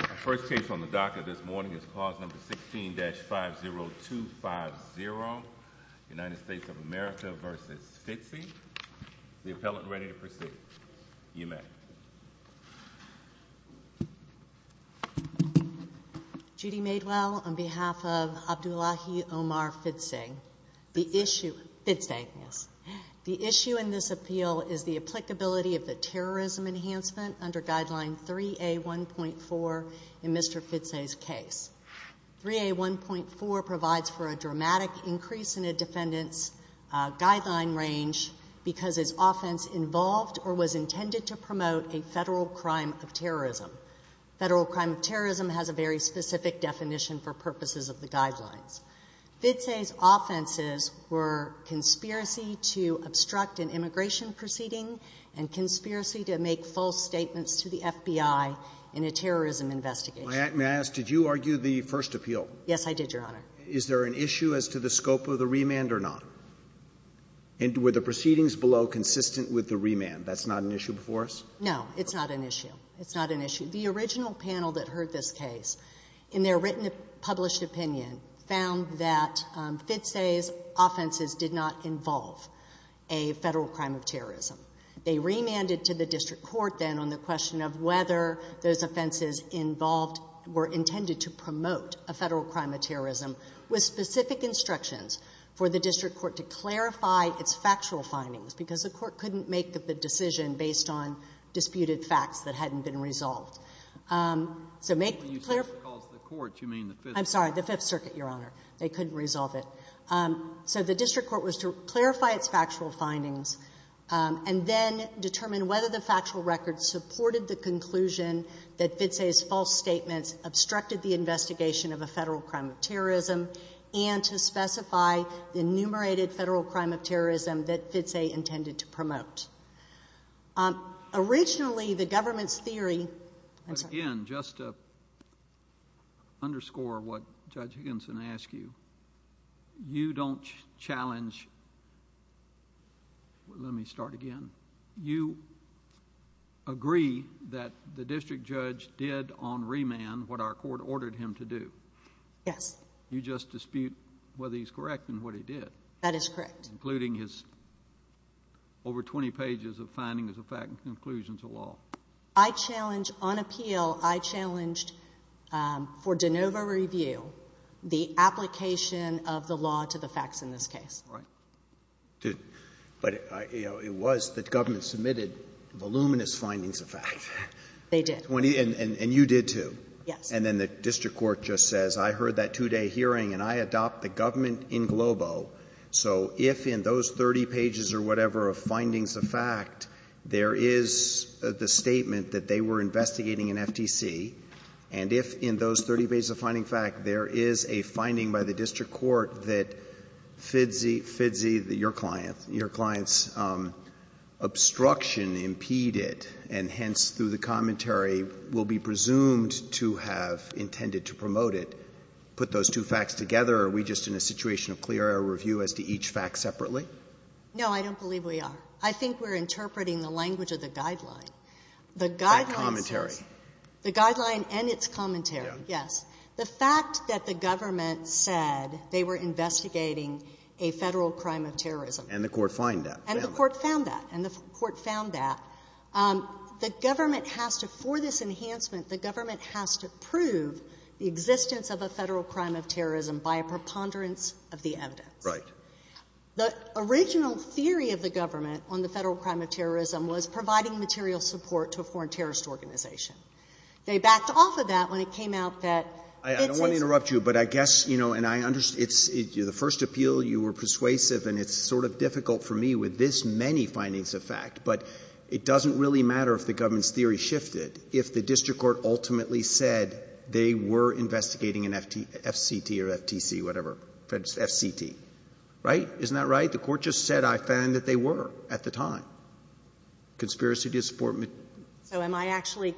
Our first case on the DACA this morning is clause number 16-50250, United States of America v. Fidse. The appellant ready to proceed. You may. Judy Madewell on behalf of Abdullahi Omar Fidse. The issue in this appeal is the applicability of the terrorism enhancement under guideline 3A1.4 in Mr. Fidse's case. 3A1.4 provides for a dramatic increase in a defendant's guideline range because his offense involved or was intended to promote a federal crime of terrorism. Federal crime of terrorism has a very specific definition for purposes of the guidelines. Fidse's offenses were conspiracy to obstruct an immigration proceeding and conspiracy to make false statements to the FBI in a terrorism investigation. May I ask, did you argue the first appeal? Yes, I did, Your Honor. Is there an issue as to the scope of the remand or not? And were the proceedings below consistent with the remand? That's not an issue before us? No, it's not an issue. It's not an issue. The original panel that heard this case in their written published opinion found that Fidse's offenses did not involve a federal crime of terrorism. They remanded to the district court then on the question of whether those offenses involved were intended to promote a federal crime of terrorism with specific instructions for the district court to clarify its factual findings because the court couldn't make the decision based on disputed facts that hadn't been resolved. So make it clear. When you say the court, you mean the Fifth Circuit? I'm sorry, the Fifth Circuit, Your Honor. They couldn't resolve it. So the district court was to clarify its factual findings and then determine whether the factual record supported the conclusion that Fidse's false statements obstructed the investigation of a federal crime of terrorism and to specify the enumerated federal crime of terrorism that Fidse intended to promote. Originally, the government's theory— Again, just to underscore what Judge Higginson asked you, you don't challenge—let me start again. You agree that the district judge did on remand what our court ordered him to do. Yes. You just dispute whether he's correct in what he did. That is correct. Including his over 20 pages of findings of facts and conclusions of law. On appeal, I challenged for de novo review the application of the law to the facts in this case. But it was that government submitted voluminous findings of fact. They did. And you did, too. Yes. And then the district court just says, I heard that two-day hearing and I adopt the government in globo. So if in those 30 pages or whatever of findings of fact, there is the statement that they were investigating an FTC, and if in those 30 pages of finding fact there is a finding by the district court that Fidse, your client's obstruction impeded, and hence through the commentary will be presumed to have intended to promote it, put those two facts together, are we just in a situation of clear air review as to each fact separately? No, I don't believe we are. I think we're interpreting the language of the guideline. That commentary. The guideline and its commentary, yes. The fact that the government said they were investigating a Federal crime of terrorism. And the court found that. And the court found that. And the court found that. The government has to, for this enhancement, the government has to prove the existence of a Federal crime of terrorism by a preponderance of the evidence. Right. The original theory of the government on the Federal crime of terrorism was providing material support to a foreign terrorist organization. They backed off of that when it came out that Fidse — I don't want to interrupt you, but I guess, you know, and I — the first appeal, you were persuasive, and it's sort of difficult for me with this many findings of fact, but it doesn't really matter if the government's theory shifted. If the district court ultimately said they were investigating an FCT or FTC, whatever, FCT. Right? Isn't that right? The court just said, I found that they were at the time. Conspiracy to support — So am I actually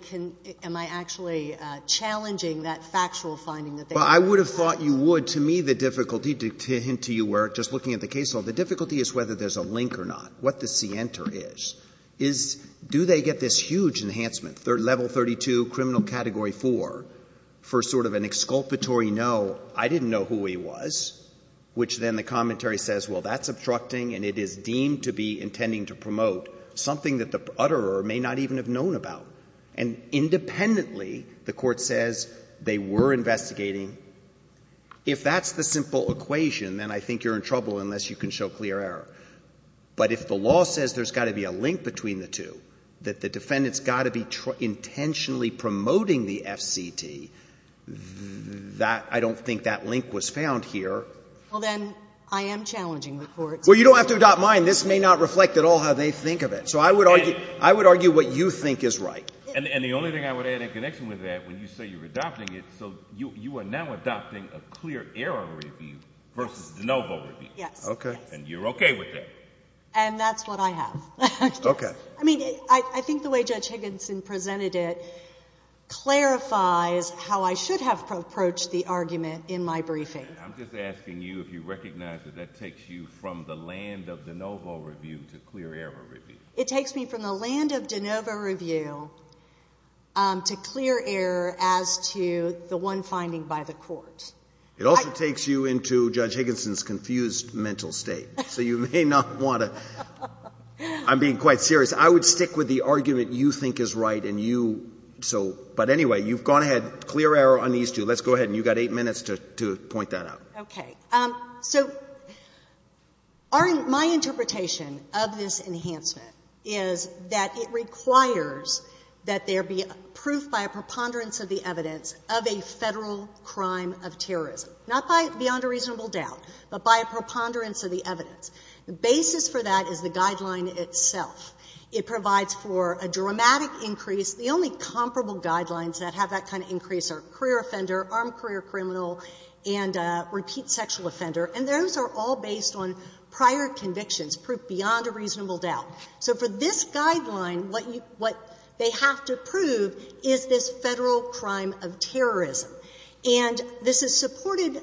challenging that factual finding that they were? Well, I would have thought you would. To me, the difficulty, to hint to you where, just looking at the case law, the difficulty is whether there's a link or not. What the scienter is, is do they get this huge enhancement, level 32, criminal category 4, for sort of an exculpatory no, I didn't know who he was, which then the commentary says, well, that's obstructing, and it is deemed to be intending to promote something that the utterer may not even have known about. And independently, the court says they were investigating. If that's the simple equation, then I think you're in trouble unless you can show clear error. But if the law says there's got to be a link between the two, that the defendant's got to be intentionally promoting the FCT, I don't think that link was found here. Well, then I am challenging the court. Well, you don't have to adopt mine. This may not reflect at all how they think of it. So I would argue what you think is right. And the only thing I would add in connection with that, when you say you're adopting it, so you are now adopting a clear error review versus the no vote review. Yes. Okay. And you're okay with that. And that's what I have. Okay. I mean, I think the way Judge Higginson presented it clarifies how I should have approached the argument in my briefing. I'm just asking you if you recognize that that takes you from the land of de novo review to clear error review. It takes me from the land of de novo review to clear error as to the one finding by the court. It also takes you into Judge Higginson's confused mental state. So you may not want to. I'm being quite serious. I would stick with the argument you think is right and you, so, but anyway, you've gone ahead. Clear error on these two. Let's go ahead. And you've got eight minutes to point that out. Okay. So my interpretation of this enhancement is that it requires that there be proof by a preponderance of the evidence of a Federal crime of terrorism, not by beyond a reasonable doubt, but by a preponderance of the evidence. The basis for that is the guideline itself. It provides for a dramatic increase. The only comparable guidelines that have that kind of increase are career offender, armed career criminal, and repeat sexual offender. And those are all based on prior convictions proved beyond a reasonable doubt. So for this guideline, what they have to prove is this Federal crime of terrorism. And this is supported,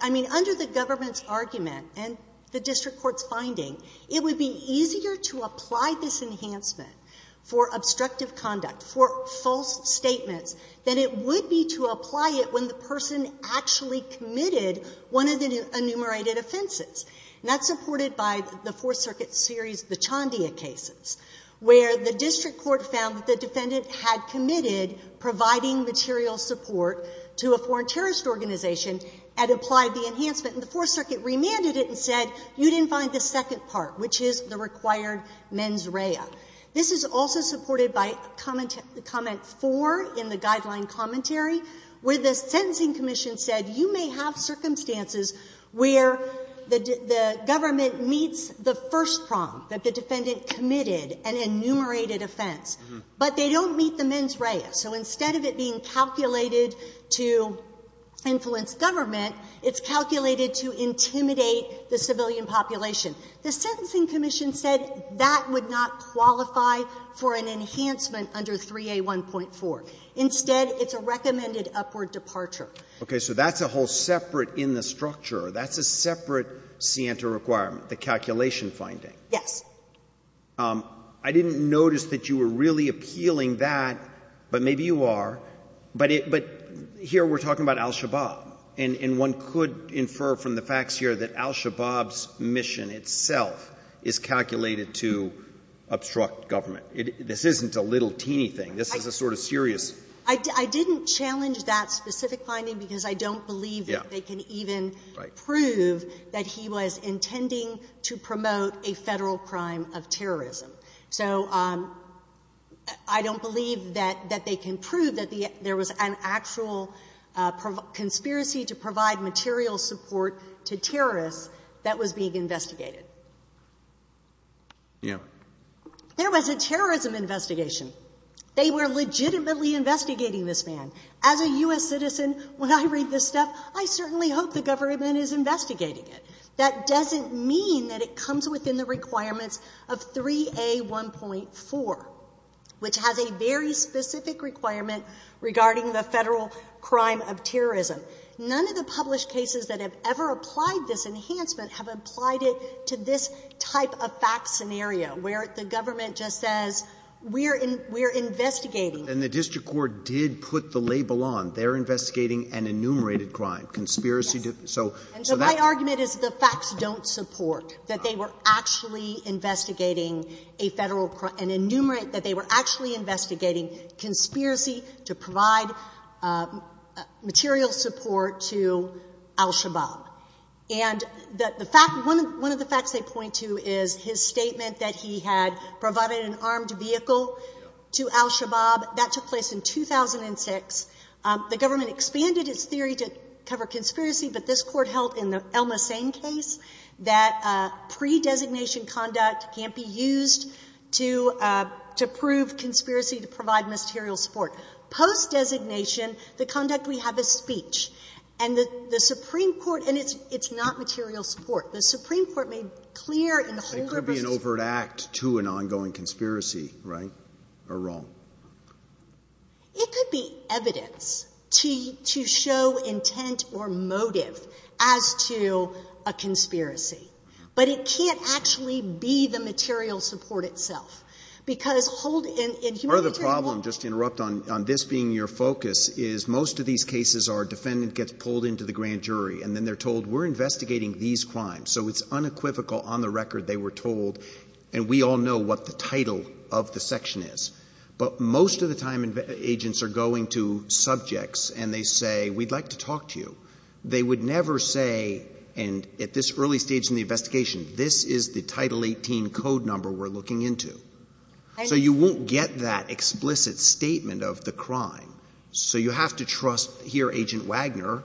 I mean, under the government's argument and the district court's finding, it would be easier to apply this enhancement for obstructive conduct, for false statements, than it would be to apply it when the person actually committed one of the enumerated offenses. And that's supported by the Fourth Circuit's series of the Chandia cases, where the district court found that the defendant had committed providing material support to a foreign terrorist organization and applied the enhancement. And the Fourth Circuit remanded it and said, you didn't find the second part, which is the required mens rea. This is also supported by comment four in the guideline commentary, where the sentencing commission said, you may have circumstances where the government meets the first prong that the defendant committed an enumerated offense, but they don't meet the mens rea. So instead of it being calculated to influence government, it's calculated to intimidate the civilian population. The sentencing commission said that would not qualify for an enhancement under 3A1.4. Instead, it's a recommended upward departure. Breyer. Okay. So that's a whole separate in the structure. That's a separate scienter requirement, the calculation finding. Yes. I didn't notice that you were really appealing that, but maybe you are. But here we're talking about al-Shabaab. And one could infer from the facts here that al-Shabaab's mission itself is calculated to obstruct government. This isn't a little teeny thing. This is a sort of serious. I didn't challenge that specific finding because I don't believe that they can even prove that he was intending to promote a Federal crime of terrorism. So I don't believe that they can prove that there was an actual conspiracy to provide material support to terrorists that was being investigated. Yeah. There was a terrorism investigation. They were legitimately investigating this man. As a U.S. citizen, when I read this stuff, I certainly hope the government is investigating it. That doesn't mean that it comes within the requirements of 3A1.4, which has a very specific requirement regarding the Federal crime of terrorism. None of the published cases that have ever applied this enhancement have applied it to this type of fact scenario where the government just says, we're investigating. And the district court did put the label on. They're investigating an enumerated crime, conspiracy. Yes. And so my argument is the facts don't support that they were actually investigating a Federal crime, an enumerated, that they were actually investigating conspiracy to provide material support to al-Shabaab. And one of the facts they point to is his statement that he had provided an armed vehicle to al-Shabaab. That took place in 2006. The government expanded its theory to cover conspiracy, but this Court held in the El-Mossein case that pre-designation conduct can't be used to prove conspiracy to provide material support. Post-designation, the conduct we have is speech. And the Supreme Court, and it's not material support. The Supreme Court made clear in the Holder v. It could be an overt act to an ongoing conspiracy, right, or wrong. It could be evidence to show intent or motive as to a conspiracy. But it can't actually be the material support itself. Because hold in humanitarian law. Part of the problem, just to interrupt on this being your focus, is most of these cases our defendant gets pulled into the grand jury, and then they're told we're investigating these crimes. So it's unequivocal on the record they were told, and we all know what the title of the section is. But most of the time agents are going to subjects and they say, we'd like to talk to you. They would never say, and at this early stage in the investigation, this is the Title 18 code number we're looking into. So you won't get that explicit statement of the crime. So you have to trust here Agent Wagner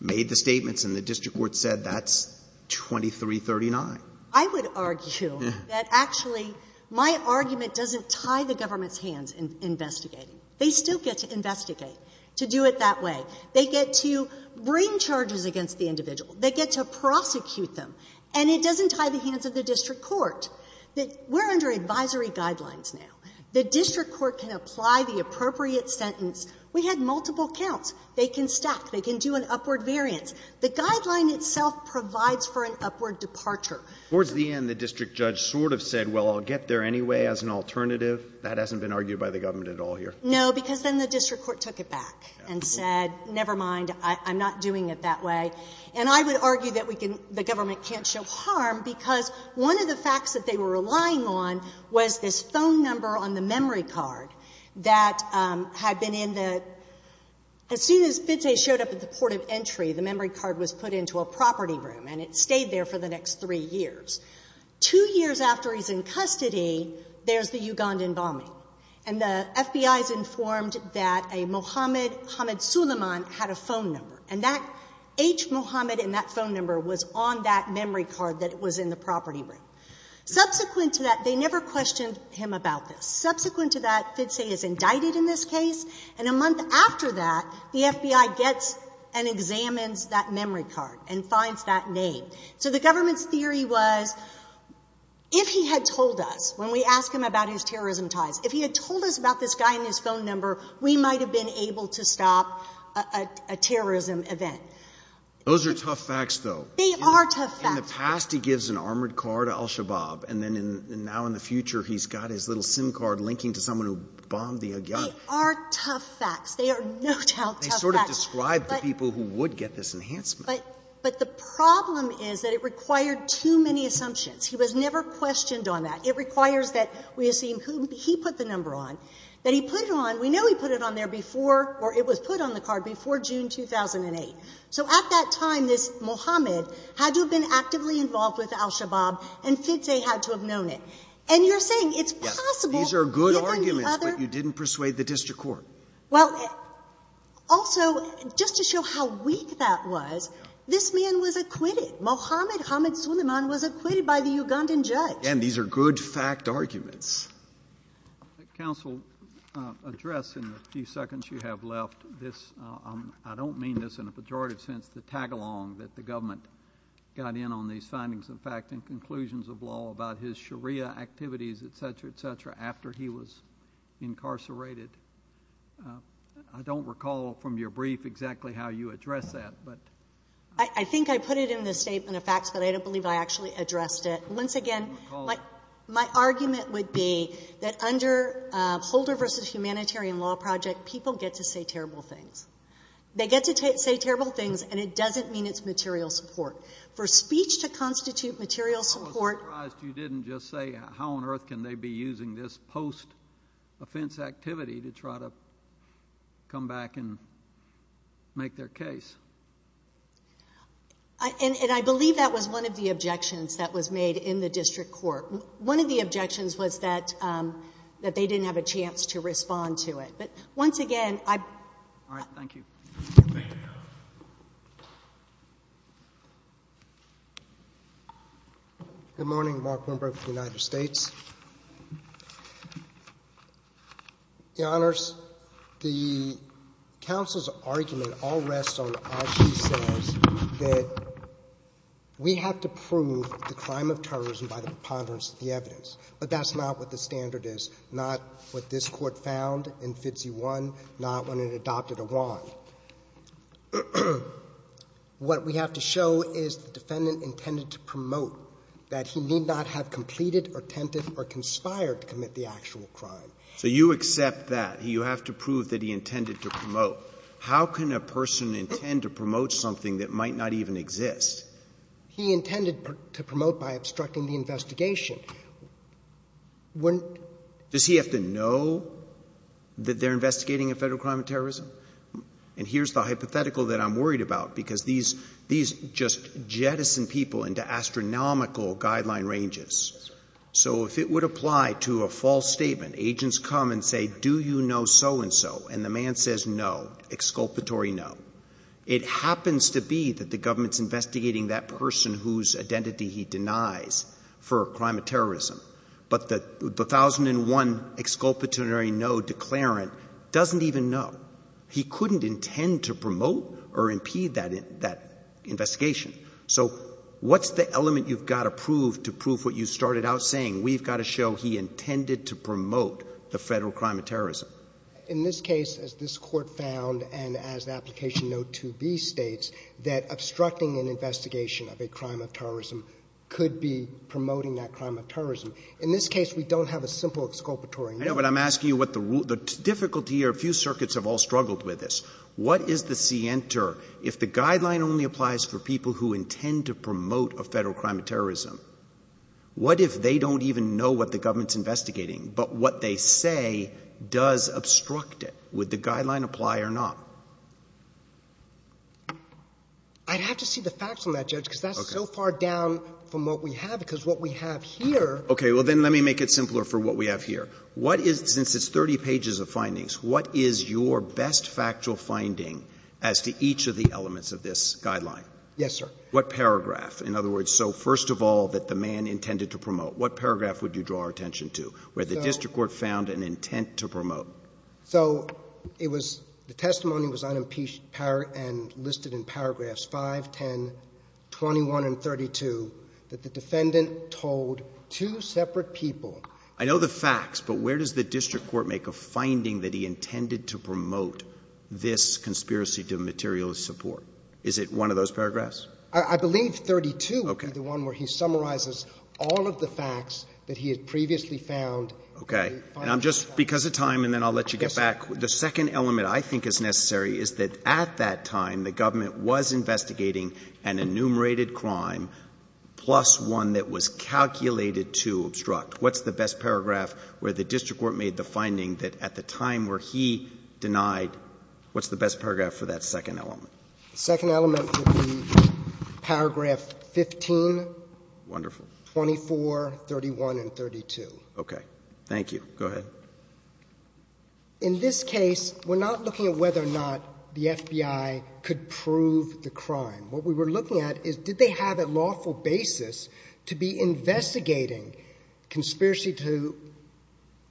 made the statements and the district court said that's 2339. I would argue that actually my argument doesn't tie the government's hands in investigating. They still get to investigate to do it that way. They get to bring charges against the individual. They get to prosecute them. And it doesn't tie the hands of the district court. We're under advisory guidelines now. The district court can apply the appropriate sentence. We had multiple counts. They can stack. They can do an upward variance. The guideline itself provides for an upward departure. Towards the end, the district judge sort of said, well, I'll get there anyway as an alternative. That hasn't been argued by the government at all here. No, because then the district court took it back and said, never mind. I'm not doing it that way. And I would argue that we can — the government can't show harm because one of the facts that they were relying on was this phone number on the memory card that had been in the — as soon as Bidze showed up at the port of entry, the memory card was put into a property room and it stayed there for the next three years. Two years after he's in custody, there's the Ugandan bombing. And the FBI is informed that a Mohammed Suleiman had a phone number. And that H Mohammed in that phone number was on that memory card that was in the property room. Subsequent to that, they never questioned him about this. Subsequent to that, Bidze is indicted in this case. And a month after that, the FBI gets and examines that memory card and finds that name. So the government's theory was if he had told us, when we asked him about his terrorism ties, if he had told us about this guy and his phone number, we might have been able to stop a terrorism event. Those are tough facts, though. They are tough facts. In the past, he gives an armored car to al-Shabaab, and now in the future, he's got his little SIM card linking to someone who bombed the Agyar. They are tough facts. They are no doubt tough facts. They sort of describe the people who would get this enhancement. But the problem is that it required too many assumptions. He was never questioned on that. It requires that we assume who he put the number on, that he put it on — we know he put it on there before — or it was put on the card before June 2008. So at that time, this Mohammed had to have been actively involved with al-Shabaab, and Fidze had to have known it. And you're saying it's possible given the other — Yes, these are good arguments, but you didn't persuade the district court. Well, also, just to show how weak that was, this man was acquitted. Mohammed Hamid Suleiman was acquitted by the Ugandan judge. Again, these are good fact arguments. Counsel, address in the few seconds you have left this. I don't mean this in a pejorative sense to tag along that the government got in on these findings and fact and conclusions of law about his Sharia activities, et cetera, et cetera, after he was incarcerated. I don't recall from your brief exactly how you addressed that. I think I put it in the statement of facts, but I don't believe I actually addressed it. Once again, my argument would be that under Holder v. Humanitarian Law Project, people get to say terrible things. They get to say terrible things, and it doesn't mean it's material support. For speech to constitute material support — I was surprised you didn't just say how on earth can they be using this post-offense activity to try to come back and make their case. And I believe that was one of the objections that was made in the district court. One of the objections was that they didn't have a chance to respond to it. But once again, I — All right. Thank you. Good morning. Mark Wimbrook, United States. Your Honors, the counsel's argument all rests on what she says, that we have to prove the crime of terrorism by the preponderance of the evidence. But that's not what the standard is, not what this Court found in 50-1, not when it adopted a wrong. What we have to show is the defendant intended to promote that he need not have completed or attempted or conspired to commit the actual crime. So you accept that. You have to prove that he intended to promote. How can a person intend to promote something that might not even exist? He intended to promote by obstructing the investigation. Does he have to know that they're investigating a federal crime of terrorism? And here's the hypothetical that I'm worried about, because these just jettison people into astronomical guideline ranges. So if it would apply to a false statement, agents come and say, do you know so-and-so? And the man says no, exculpatory no. It happens to be that the government's investigating that person whose identity he denies for a crime of terrorism. But the 1001 exculpatory no declarant doesn't even know. He couldn't intend to promote or impede that investigation. So what's the element you've got to prove to prove what you started out saying? We've got to show he intended to promote the federal crime of terrorism. In this case, as this Court found and as the application note 2B states, that obstructing an investigation of a crime of terrorism could be promoting that crime of terrorism. In this case, we don't have a simple exculpatory no. I know, but I'm asking you what the difficulty here, a few circuits have all struggled with this. What is the scienter if the guideline only applies for people who intend to promote a federal crime of terrorism? What if they don't even know what the government's investigating, but what they say does obstruct it? Would the guideline apply or not? I'd have to see the facts on that, Judge, because that's so far down from what we have, because what we have here— Okay. Well, then let me make it simpler for what we have here. What is—since it's 30 pages of findings, what is your best factual finding as to each of the elements of this guideline? Yes, sir. What paragraph? In other words, so first of all, that the man intended to promote. What paragraph would you draw our attention to where the district court found an intent to promote? So it was—the testimony was unimpeached and listed in paragraphs 5, 10, 21, and 32 that the defendant told two separate people— I know the facts, but where does the district court make a finding that he intended to promote this conspiracy to material support? Is it one of those paragraphs? I believe 32 would be the one where he summarizes all of the facts that he had previously found. Okay. And I'm just—because of time, and then I'll let you get back. The second element I think is necessary is that at that time, the government was investigating an enumerated crime plus one that was calculated to obstruct. What's the best paragraph where the district court made the finding that at the time where he denied—what's the best paragraph for that second element? The second element would be paragraph 15. Wonderful. 24, 31, and 32. Okay. Thank you. Go ahead. In this case, we're not looking at whether or not the FBI could prove the crime. What we were looking at is did they have a lawful basis to be investigating conspiracy to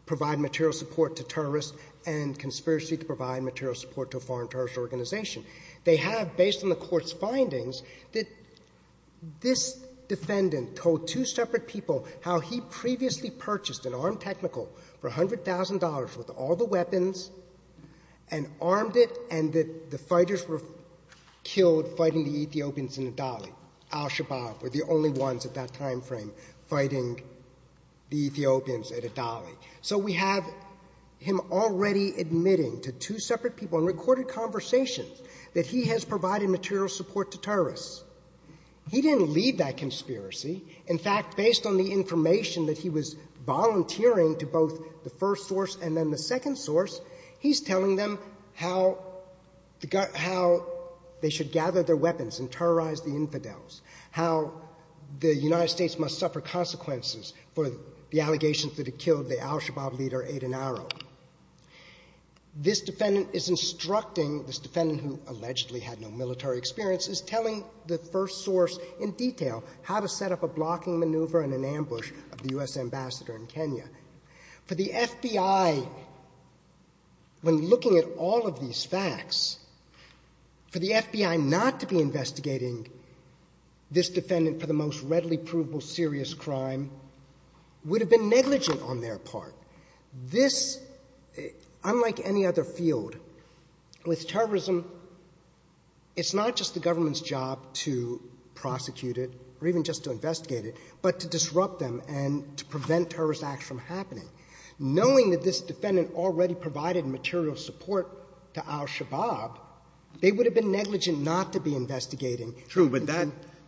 provide material support to terrorists and conspiracy to provide material support to a foreign terrorist organization. They have, based on the court's findings, that this defendant told two separate people how he previously purchased an armed technical for $100,000 with all the weapons and armed it and that the fighters were killed fighting the Ethiopians in Adali. Al-Shabaab were the only ones at that time frame fighting the Ethiopians at Adali. So we have him already admitting to two separate people in recorded conversations that he has provided material support to terrorists. He didn't lead that conspiracy. In fact, based on the information that he was volunteering to both the first source and then the second source, he's telling them how they should gather their weapons and terrorize the infidels, how the United States must suffer consequences for the allegations that it killed the Al-Shabaab leader, Aden Aro. This defendant is instructing, this defendant who allegedly had no military experience, is telling the first source in detail how to set up a blocking maneuver and an ambush of the U.S. ambassador in Kenya. For the FBI, when looking at all of these facts, for the FBI not to be investigating this defendant for the most readily provable serious crime, would have been negligent on their part. This, unlike any other field, with terrorism, it's not just the government's job to prosecute it or even just to investigate it, but to disrupt them and to prevent terrorist acts from happening. Knowing that this defendant already provided material support to Al-Shabaab, they would have been negligent not to be investigating. True, but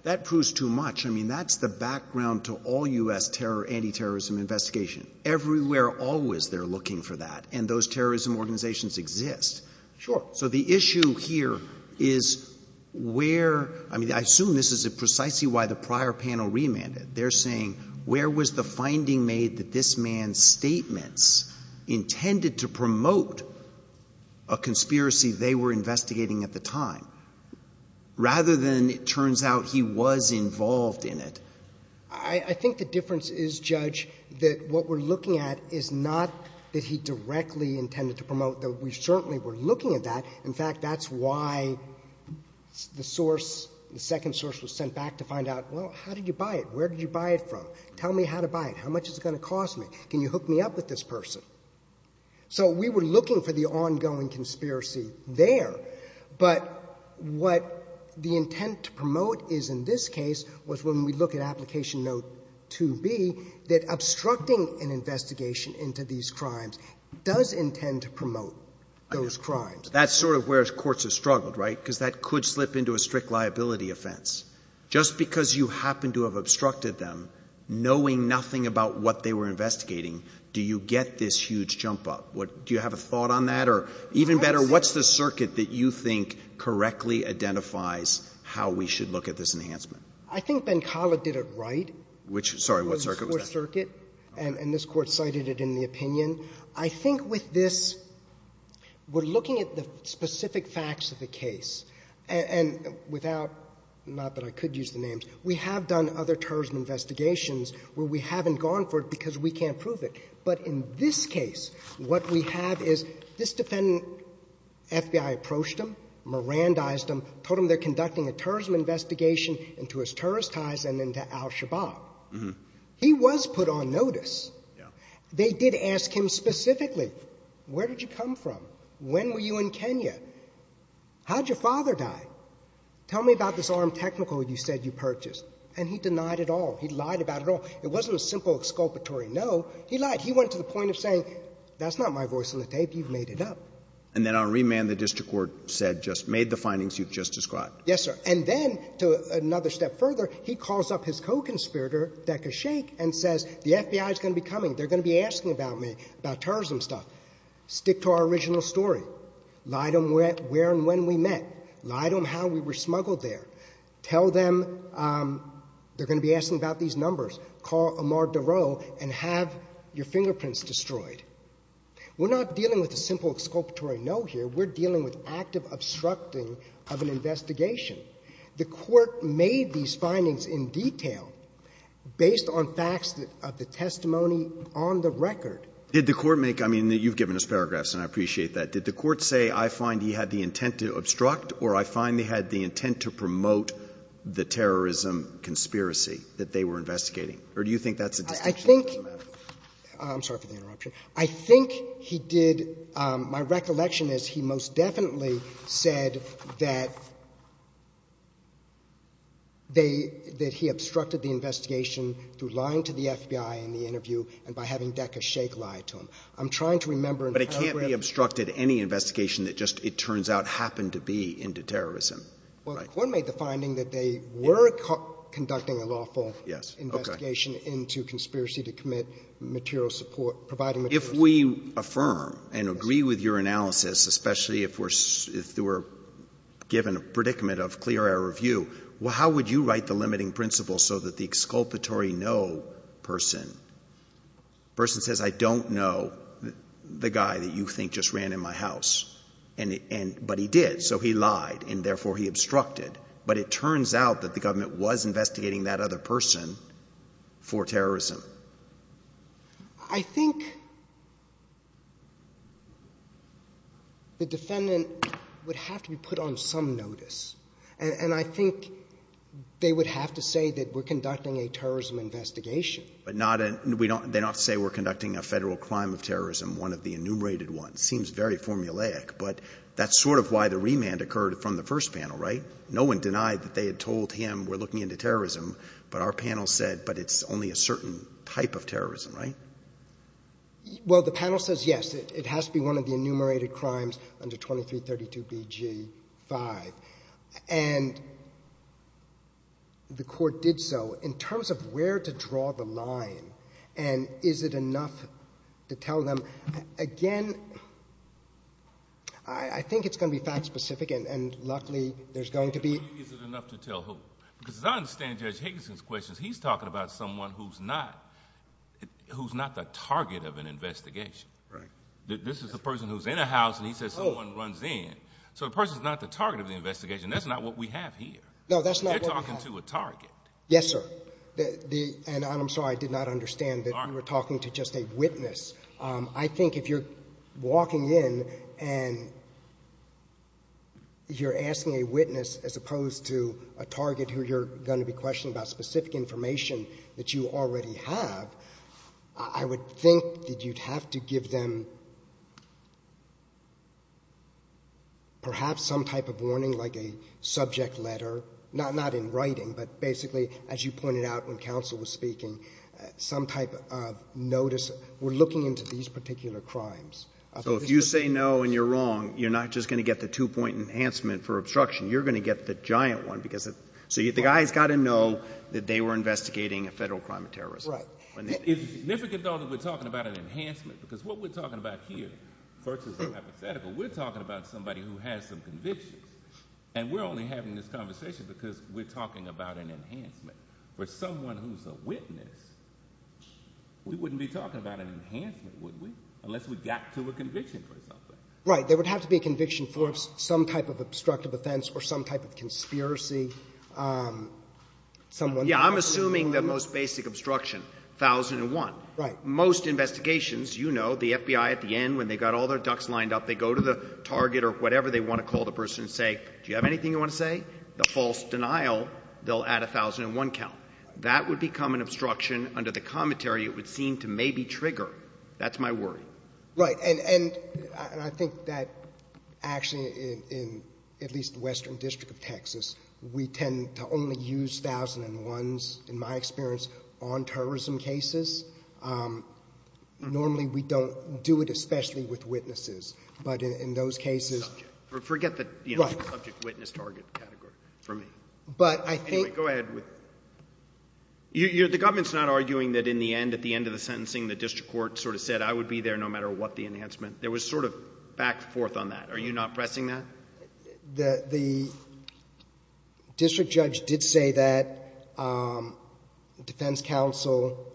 that proves too much. I mean, that's the background to all U.S. anti-terrorism investigation. Everywhere, always, they're looking for that, and those terrorism organizations exist. Sure. So the issue here is where, I mean, I assume this is precisely why the prior panel remanded. They're saying where was the finding made that this man's statements intended to promote a conspiracy they were investigating at the time, rather than it turns out he was involved in it? I think the difference is, Judge, that what we're looking at is not that he directly intended to promote, that we certainly were looking at that. In fact, that's why the source, the second source was sent back to find out, well, how did you buy it? Where did you buy it from? Tell me how to buy it. How much is it going to cost me? Can you hook me up with this person? So we were looking for the ongoing conspiracy there, but what the intent to promote is in this case, was when we look at application note 2B, that obstructing an investigation into these crimes does intend to promote those crimes. That's sort of where courts have struggled, right? Because that could slip into a strict liability offense. Just because you happen to have obstructed them, knowing nothing about what they were investigating, do you get this huge jump up? Do you have a thought on that? Or even better, what's the circuit that you think correctly identifies how we should look at this enhancement? I think Benkala did it right. Sorry, what circuit was that? It was the Fourth Circuit. And this Court cited it in the opinion. I think with this, we're looking at the specific facts of the case. And without — not that I could use the names. We have done other terrorism investigations where we haven't gone for it because we can't prove it. But in this case, what we have is this defendant, FBI approached him, Mirandized him, told him they're conducting a terrorism investigation into his terrorist ties and into al-Shabaab. He was put on notice. They did ask him specifically, where did you come from? When were you in Kenya? How did your father die? Tell me about this armed technical you said you purchased. And he denied it all. He lied about it all. It wasn't a simple exculpatory no. He lied. He went to the point of saying, that's not my voice on the tape. You've made it up. And then on remand, the district court said, just made the findings you've just described. Yes, sir. And then, to another step further, he calls up his co-conspirator, Deka Sheikh, and says, the FBI is going to be coming. They're going to be asking about me, about terrorism stuff. Stick to our original story. Lie to them where and when we met. Lie to them how we were smuggled there. Tell them they're going to be asking about these numbers. Call Ahmad Darrow and have your fingerprints destroyed. We're not dealing with a simple exculpatory no here. We're dealing with active obstructing of an investigation. The Court made these findings in detail based on facts of the testimony on the record. Did the Court make — I mean, you've given us paragraphs, and I appreciate that. Did the Court say, I find he had the intent to obstruct or I find he had the intent to promote the terrorism conspiracy that they were investigating? Or do you think that's a distinction? I think — I'm sorry for the interruption. I think he did — my recollection is he most definitely said that they — that he obstructed the investigation through lying to the FBI in the interview and by having Deka Sheikh lie to him. I'm trying to remember in paragraph — But it can't be obstructed, any investigation that just, it turns out, happened to be into terrorism. Well, the Court made the finding that they were conducting a lawful investigation into conspiracy to commit material support, providing material support. If we affirm and agree with your analysis, especially if we're — if we're given a predicament of clear error of view, well, how would you write the limiting principle so that the exculpatory no person, the person says, I don't know the guy that you think just ran in my house, but he did, so he lied, and therefore he obstructed. But it turns out that the government was investigating that other person for terrorism. I think the defendant would have to be put on some notice, and I think they would have to say that we're conducting a terrorism investigation. But not a — they don't have to say we're conducting a federal crime of terrorism, one of the enumerated ones. It seems very formulaic, but that's sort of why the remand occurred from the first panel, right? No one denied that they had told him we're looking into terrorism, but our panel said, but it's only a certain type of terrorism, right? Well, the panel says yes. It has to be one of the enumerated crimes under 2332 B.G. 5. And the Court did so. In terms of where to draw the line and is it enough to tell them, again, I think it's going to be fact-specific, and luckily there's going to be — Is it enough to tell who? Because as I understand Judge Higginson's questions, he's talking about someone who's not the target of an investigation. Right. This is the person who's in a house, and he says someone runs in. So the person's not the target of the investigation. That's not what we have here. No, that's not what we have. They're talking to a target. Yes, sir. And I'm sorry, I did not understand that you were talking to just a witness. I think if you're walking in and you're asking a witness as opposed to a target who you're going to be questioning about specific information that you already have, I would think that you'd have to give them perhaps some type of warning, like a subject letter, not in writing, but basically as you pointed out when counsel was speaking, some type of notice. We're looking into these particular crimes. So if you say no and you're wrong, you're not just going to get the two-point enhancement for obstruction. You're going to get the giant one. So the guy's got to know that they were investigating a federal crime of terrorism. Right. It's significant, though, that we're talking about an enhancement because what we're talking about here versus a hypothetical, we're talking about somebody who has some convictions, and we're only having this conversation because we're talking about an enhancement. But someone who's a witness, we wouldn't be talking about an enhancement, would we, unless we got to a conviction for something. Right. There would have to be a conviction for some type of obstructive offense or some type of conspiracy. Yeah. I'm assuming the most basic obstruction, 1001. Right. Most investigations, you know, the FBI at the end, when they've got all their ducks lined up, they go to the target or whatever they want to call the person and say, do you have anything you want to say? The false denial, they'll add 1001 count. That would become an obstruction under the commentary it would seem to maybe trigger. That's my worry. Right. And I think that actually in at least the Western District of Texas, we tend to only use 1001s, in my experience, on terrorism cases. Normally we don't do it especially with witnesses. But in those cases – Forget the subject witness target category for me. But I think – Anyway, go ahead. The government's not arguing that in the end, at the end of the sentencing, the district court sort of said I would be there no matter what the enhancement. There was sort of back and forth on that. Are you not pressing that? The district judge did say that. The defense counsel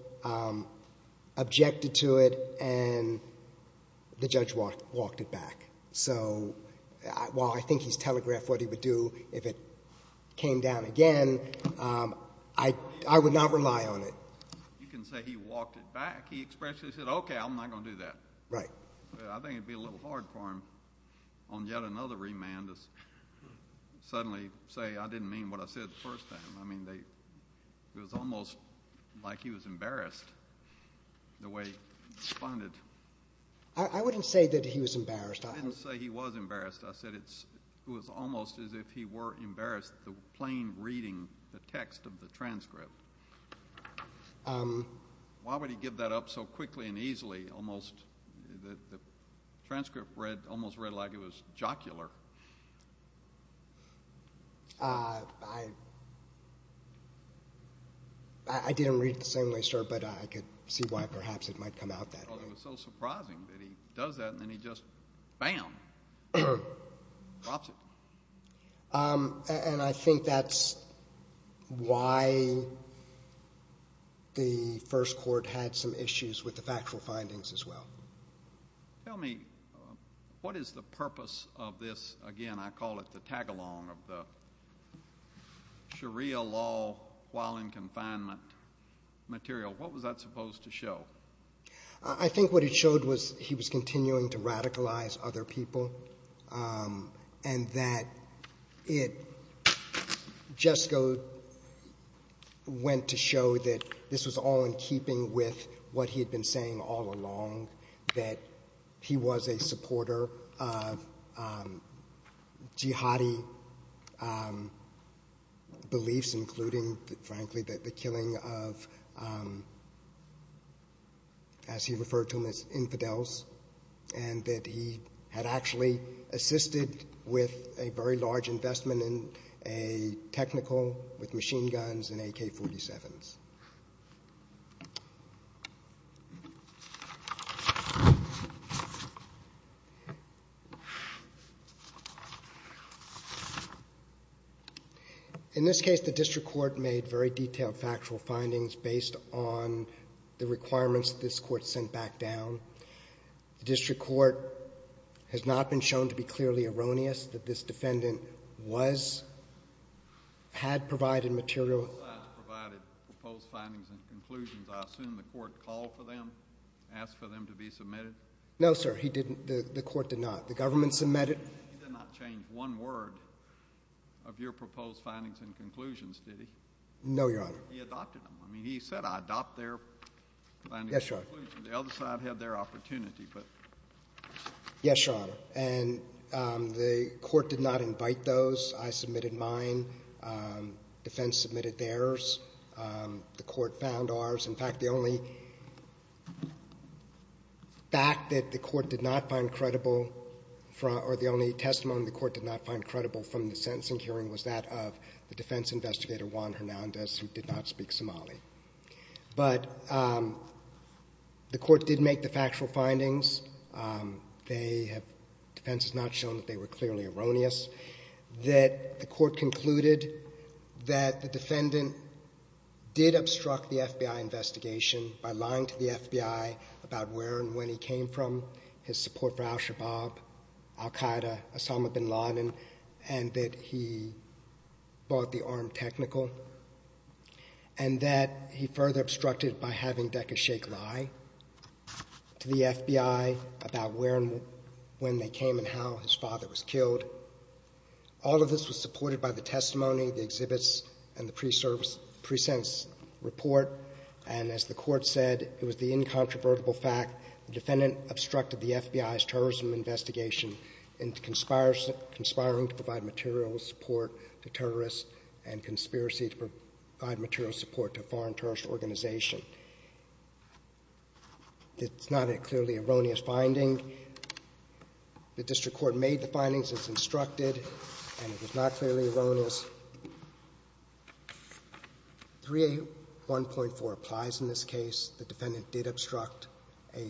objected to it, and the judge walked it back. So while I think he's telegraphed what he would do if it came down again, I would not rely on it. You can say he walked it back. He expressly said, okay, I'm not going to do that. Right. I think it would be a little hard for him on yet another remand to suddenly say I didn't mean what I said the first time. I mean, it was almost like he was embarrassed the way he responded. I wouldn't say that he was embarrassed. I didn't say he was embarrassed. I said it was almost as if he were embarrassed, the plain reading, the text of the transcript. Why would he give that up so quickly and easily? The transcript almost read like it was jocular. I didn't read it the same way, sir, but I could see why perhaps it might come out that way. It was so surprising that he does that, and then he just, bam, drops it. And I think that's why the first court had some issues with the factual findings as well. Tell me, what is the purpose of this, again, I call it the tag-along of the Sharia law while in confinement material? What was that supposed to show? I think what it showed was he was continuing to radicalize other people and that it just went to show that this was all in keeping with what he had been saying all along, that he was a supporter of jihadi beliefs, including, frankly, the killing of, as he referred to them as infidels, and that he had actually assisted with a very large investment in a technical with machine guns and AK-47s. Thank you. In this case, the district court made very detailed factual findings based on the requirements that this court sent back down. The district court has not been shown to be clearly erroneous that this defendant had provided material. Both sides provided proposed findings and conclusions. I assume the court called for them, asked for them to be submitted? No, sir, he didn't. The court did not. The government submitted. He did not change one word of your proposed findings and conclusions, did he? No, Your Honor. He adopted them. I mean, he said, I adopt their findings and conclusions. The other side had their opportunity. Yes, Your Honor. And the court did not invite those. I submitted mine. Defense submitted theirs. The court found ours. In fact, the only fact that the court did not find credible, or the only testimony the court did not find credible from the sentencing hearing was that of the defense investigator, Juan Hernandez, who did not speak Somali. But the court did make the factual findings. Defense has not shown that they were clearly erroneous. The court concluded that the defendant did obstruct the FBI investigation by lying to the FBI about where and when he came from, his support for al-Shabaab, al-Qaeda, Osama bin Laden, and that he bought the arm technical, and that he further obstructed by having Deke Sheik lie to the FBI about where and when they came and how his father was killed. All of this was supported by the testimony, the exhibits, and the pre-sentence report. And as the court said, it was the incontrovertible fact the defendant obstructed the FBI's terrorism investigation in conspiring to provide material support to terrorists and conspiracy to provide material support to a foreign terrorist organization. It's not a clearly erroneous finding. The district court made the findings. It's instructed, and it was not clearly erroneous. 3A1.4 applies in this case. The defendant did obstruct a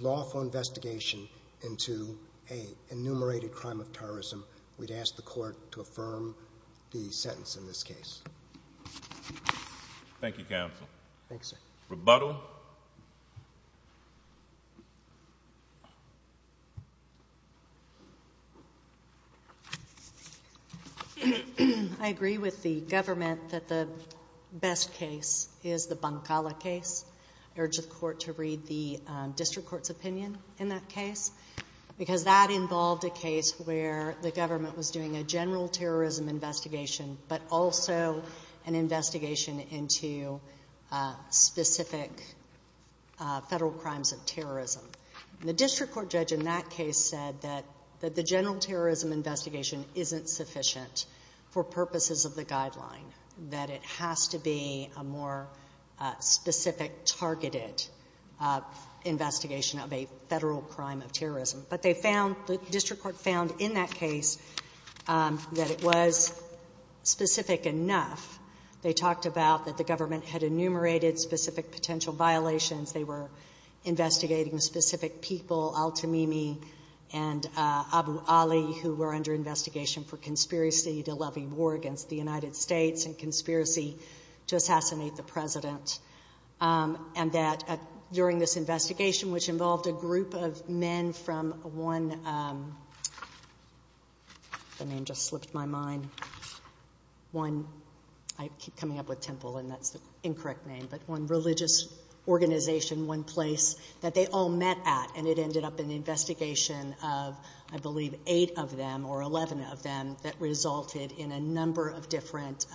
lawful investigation into an enumerated crime of terrorism. We'd ask the court to affirm the sentence in this case. Thank you, counsel. Thank you, sir. Rebuttal. I agree with the government that the best case is the Bankala case. I urge the court to read the district court's opinion in that case because that involved a case where the government was doing a general terrorism investigation but also an investigation into specific federal crimes of terrorism. The district court judge in that case said that the general terrorism investigation isn't sufficient for purposes of the guideline, that it has to be a more specific targeted investigation of a federal crime of terrorism. But the district court found in that case that it was specific enough. They talked about that the government had enumerated specific potential violations. They were investigating specific people, Al-Tamimi and Abu Ali, who were under investigation for conspiracy to levy war against the United States and conspiracy to assassinate the president. During this investigation, which involved a group of men from one religious organization, one place that they all met at, and it ended up in an investigation of, I believe, eight of them or 11 of them that resulted in a number of different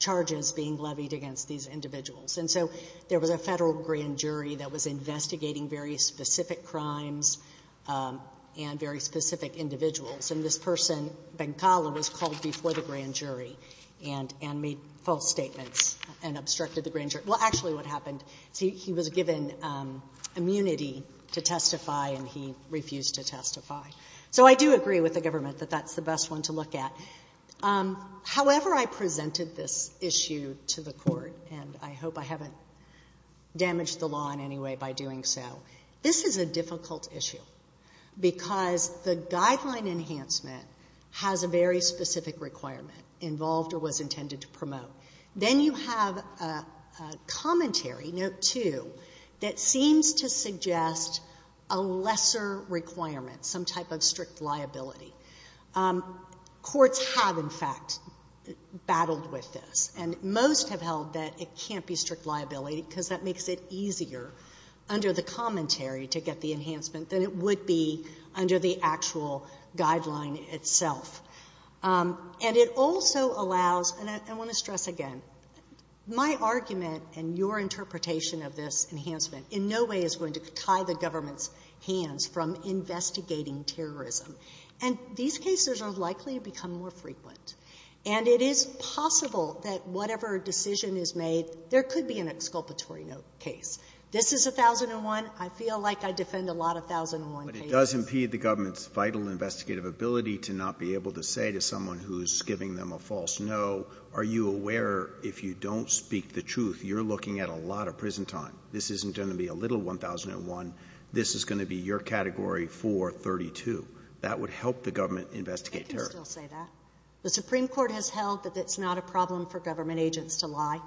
charges being levied against these individuals. And so there was a federal grand jury that was investigating very specific crimes and very specific individuals. And this person, Bengkala, was called before the grand jury and made false statements and obstructed the grand jury. Well, actually what happened is he was given immunity to testify and he refused to testify. So I do agree with the government that that's the best one to look at. However I presented this issue to the court, and I hope I haven't damaged the law in any way by doing so, this is a difficult issue because the guideline enhancement has a very specific requirement involved or was intended to promote. Then you have a commentary, note two, that seems to suggest a lesser requirement, some type of strict liability. Courts have, in fact, battled with this, and most have held that it can't be strict liability because that makes it easier under the commentary to get the enhancement than it would be under the actual guideline itself. And it also allows, and I want to stress again, my argument and your interpretation of this enhancement in no way is going to tie the government's hands from investigating terrorism. And these cases are likely to become more frequent. And it is possible that whatever decision is made, there could be an exculpatory note case. This is 1001. I feel like I defend a lot of 1001 cases. But it does impede the government's vital investigative ability to not be able to say to someone who is giving them a false no, are you aware if you don't speak the truth, you're looking at a lot of prison time. This isn't going to be a little 1001. This is going to be your category 432. That would help the government investigate terrorism. They can still say that. The Supreme Court has held that it's not a problem for government agents to lie.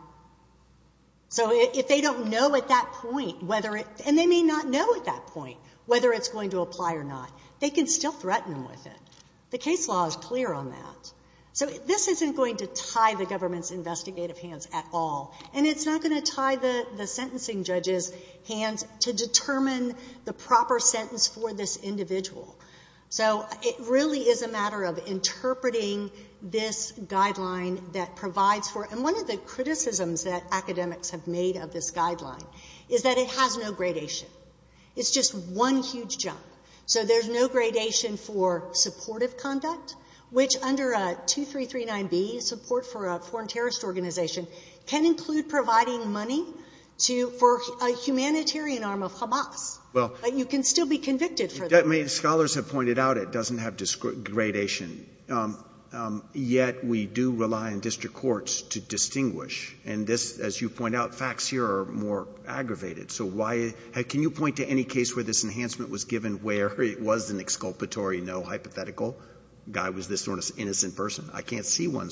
So if they don't know at that point whether it's going to apply or not, they can still threaten them with it. The case law is clear on that. So this isn't going to tie the government's investigative hands at all, and it's not going to tie the sentencing judge's hands to determine the proper sentence for this individual. So it really is a matter of interpreting this guideline that provides for it. And one of the criticisms that academics have made of this guideline is that it has no gradation. It's just one huge jump. So there's no gradation for supportive conduct, which under 2339B, support for a foreign terrorist organization, can include providing money for a humanitarian arm of Hamas. But you can still be convicted for that. Scholars have pointed out it doesn't have gradation. Yet we do rely on district courts to distinguish. And this, as you point out, facts here are more aggravated. So can you point to any case where this enhancement was given where it was an exculpatory, no hypothetical guy was this sort of innocent person? I can't see one.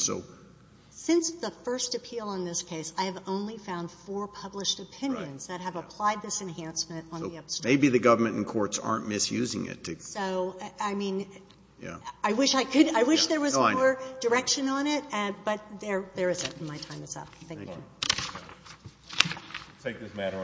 Since the first appeal on this case, I have only found four published opinions that have applied this enhancement. So maybe the government and courts aren't misusing it. So, I mean, I wish there was more direction on it, but there isn't, and my time is up. Thank you.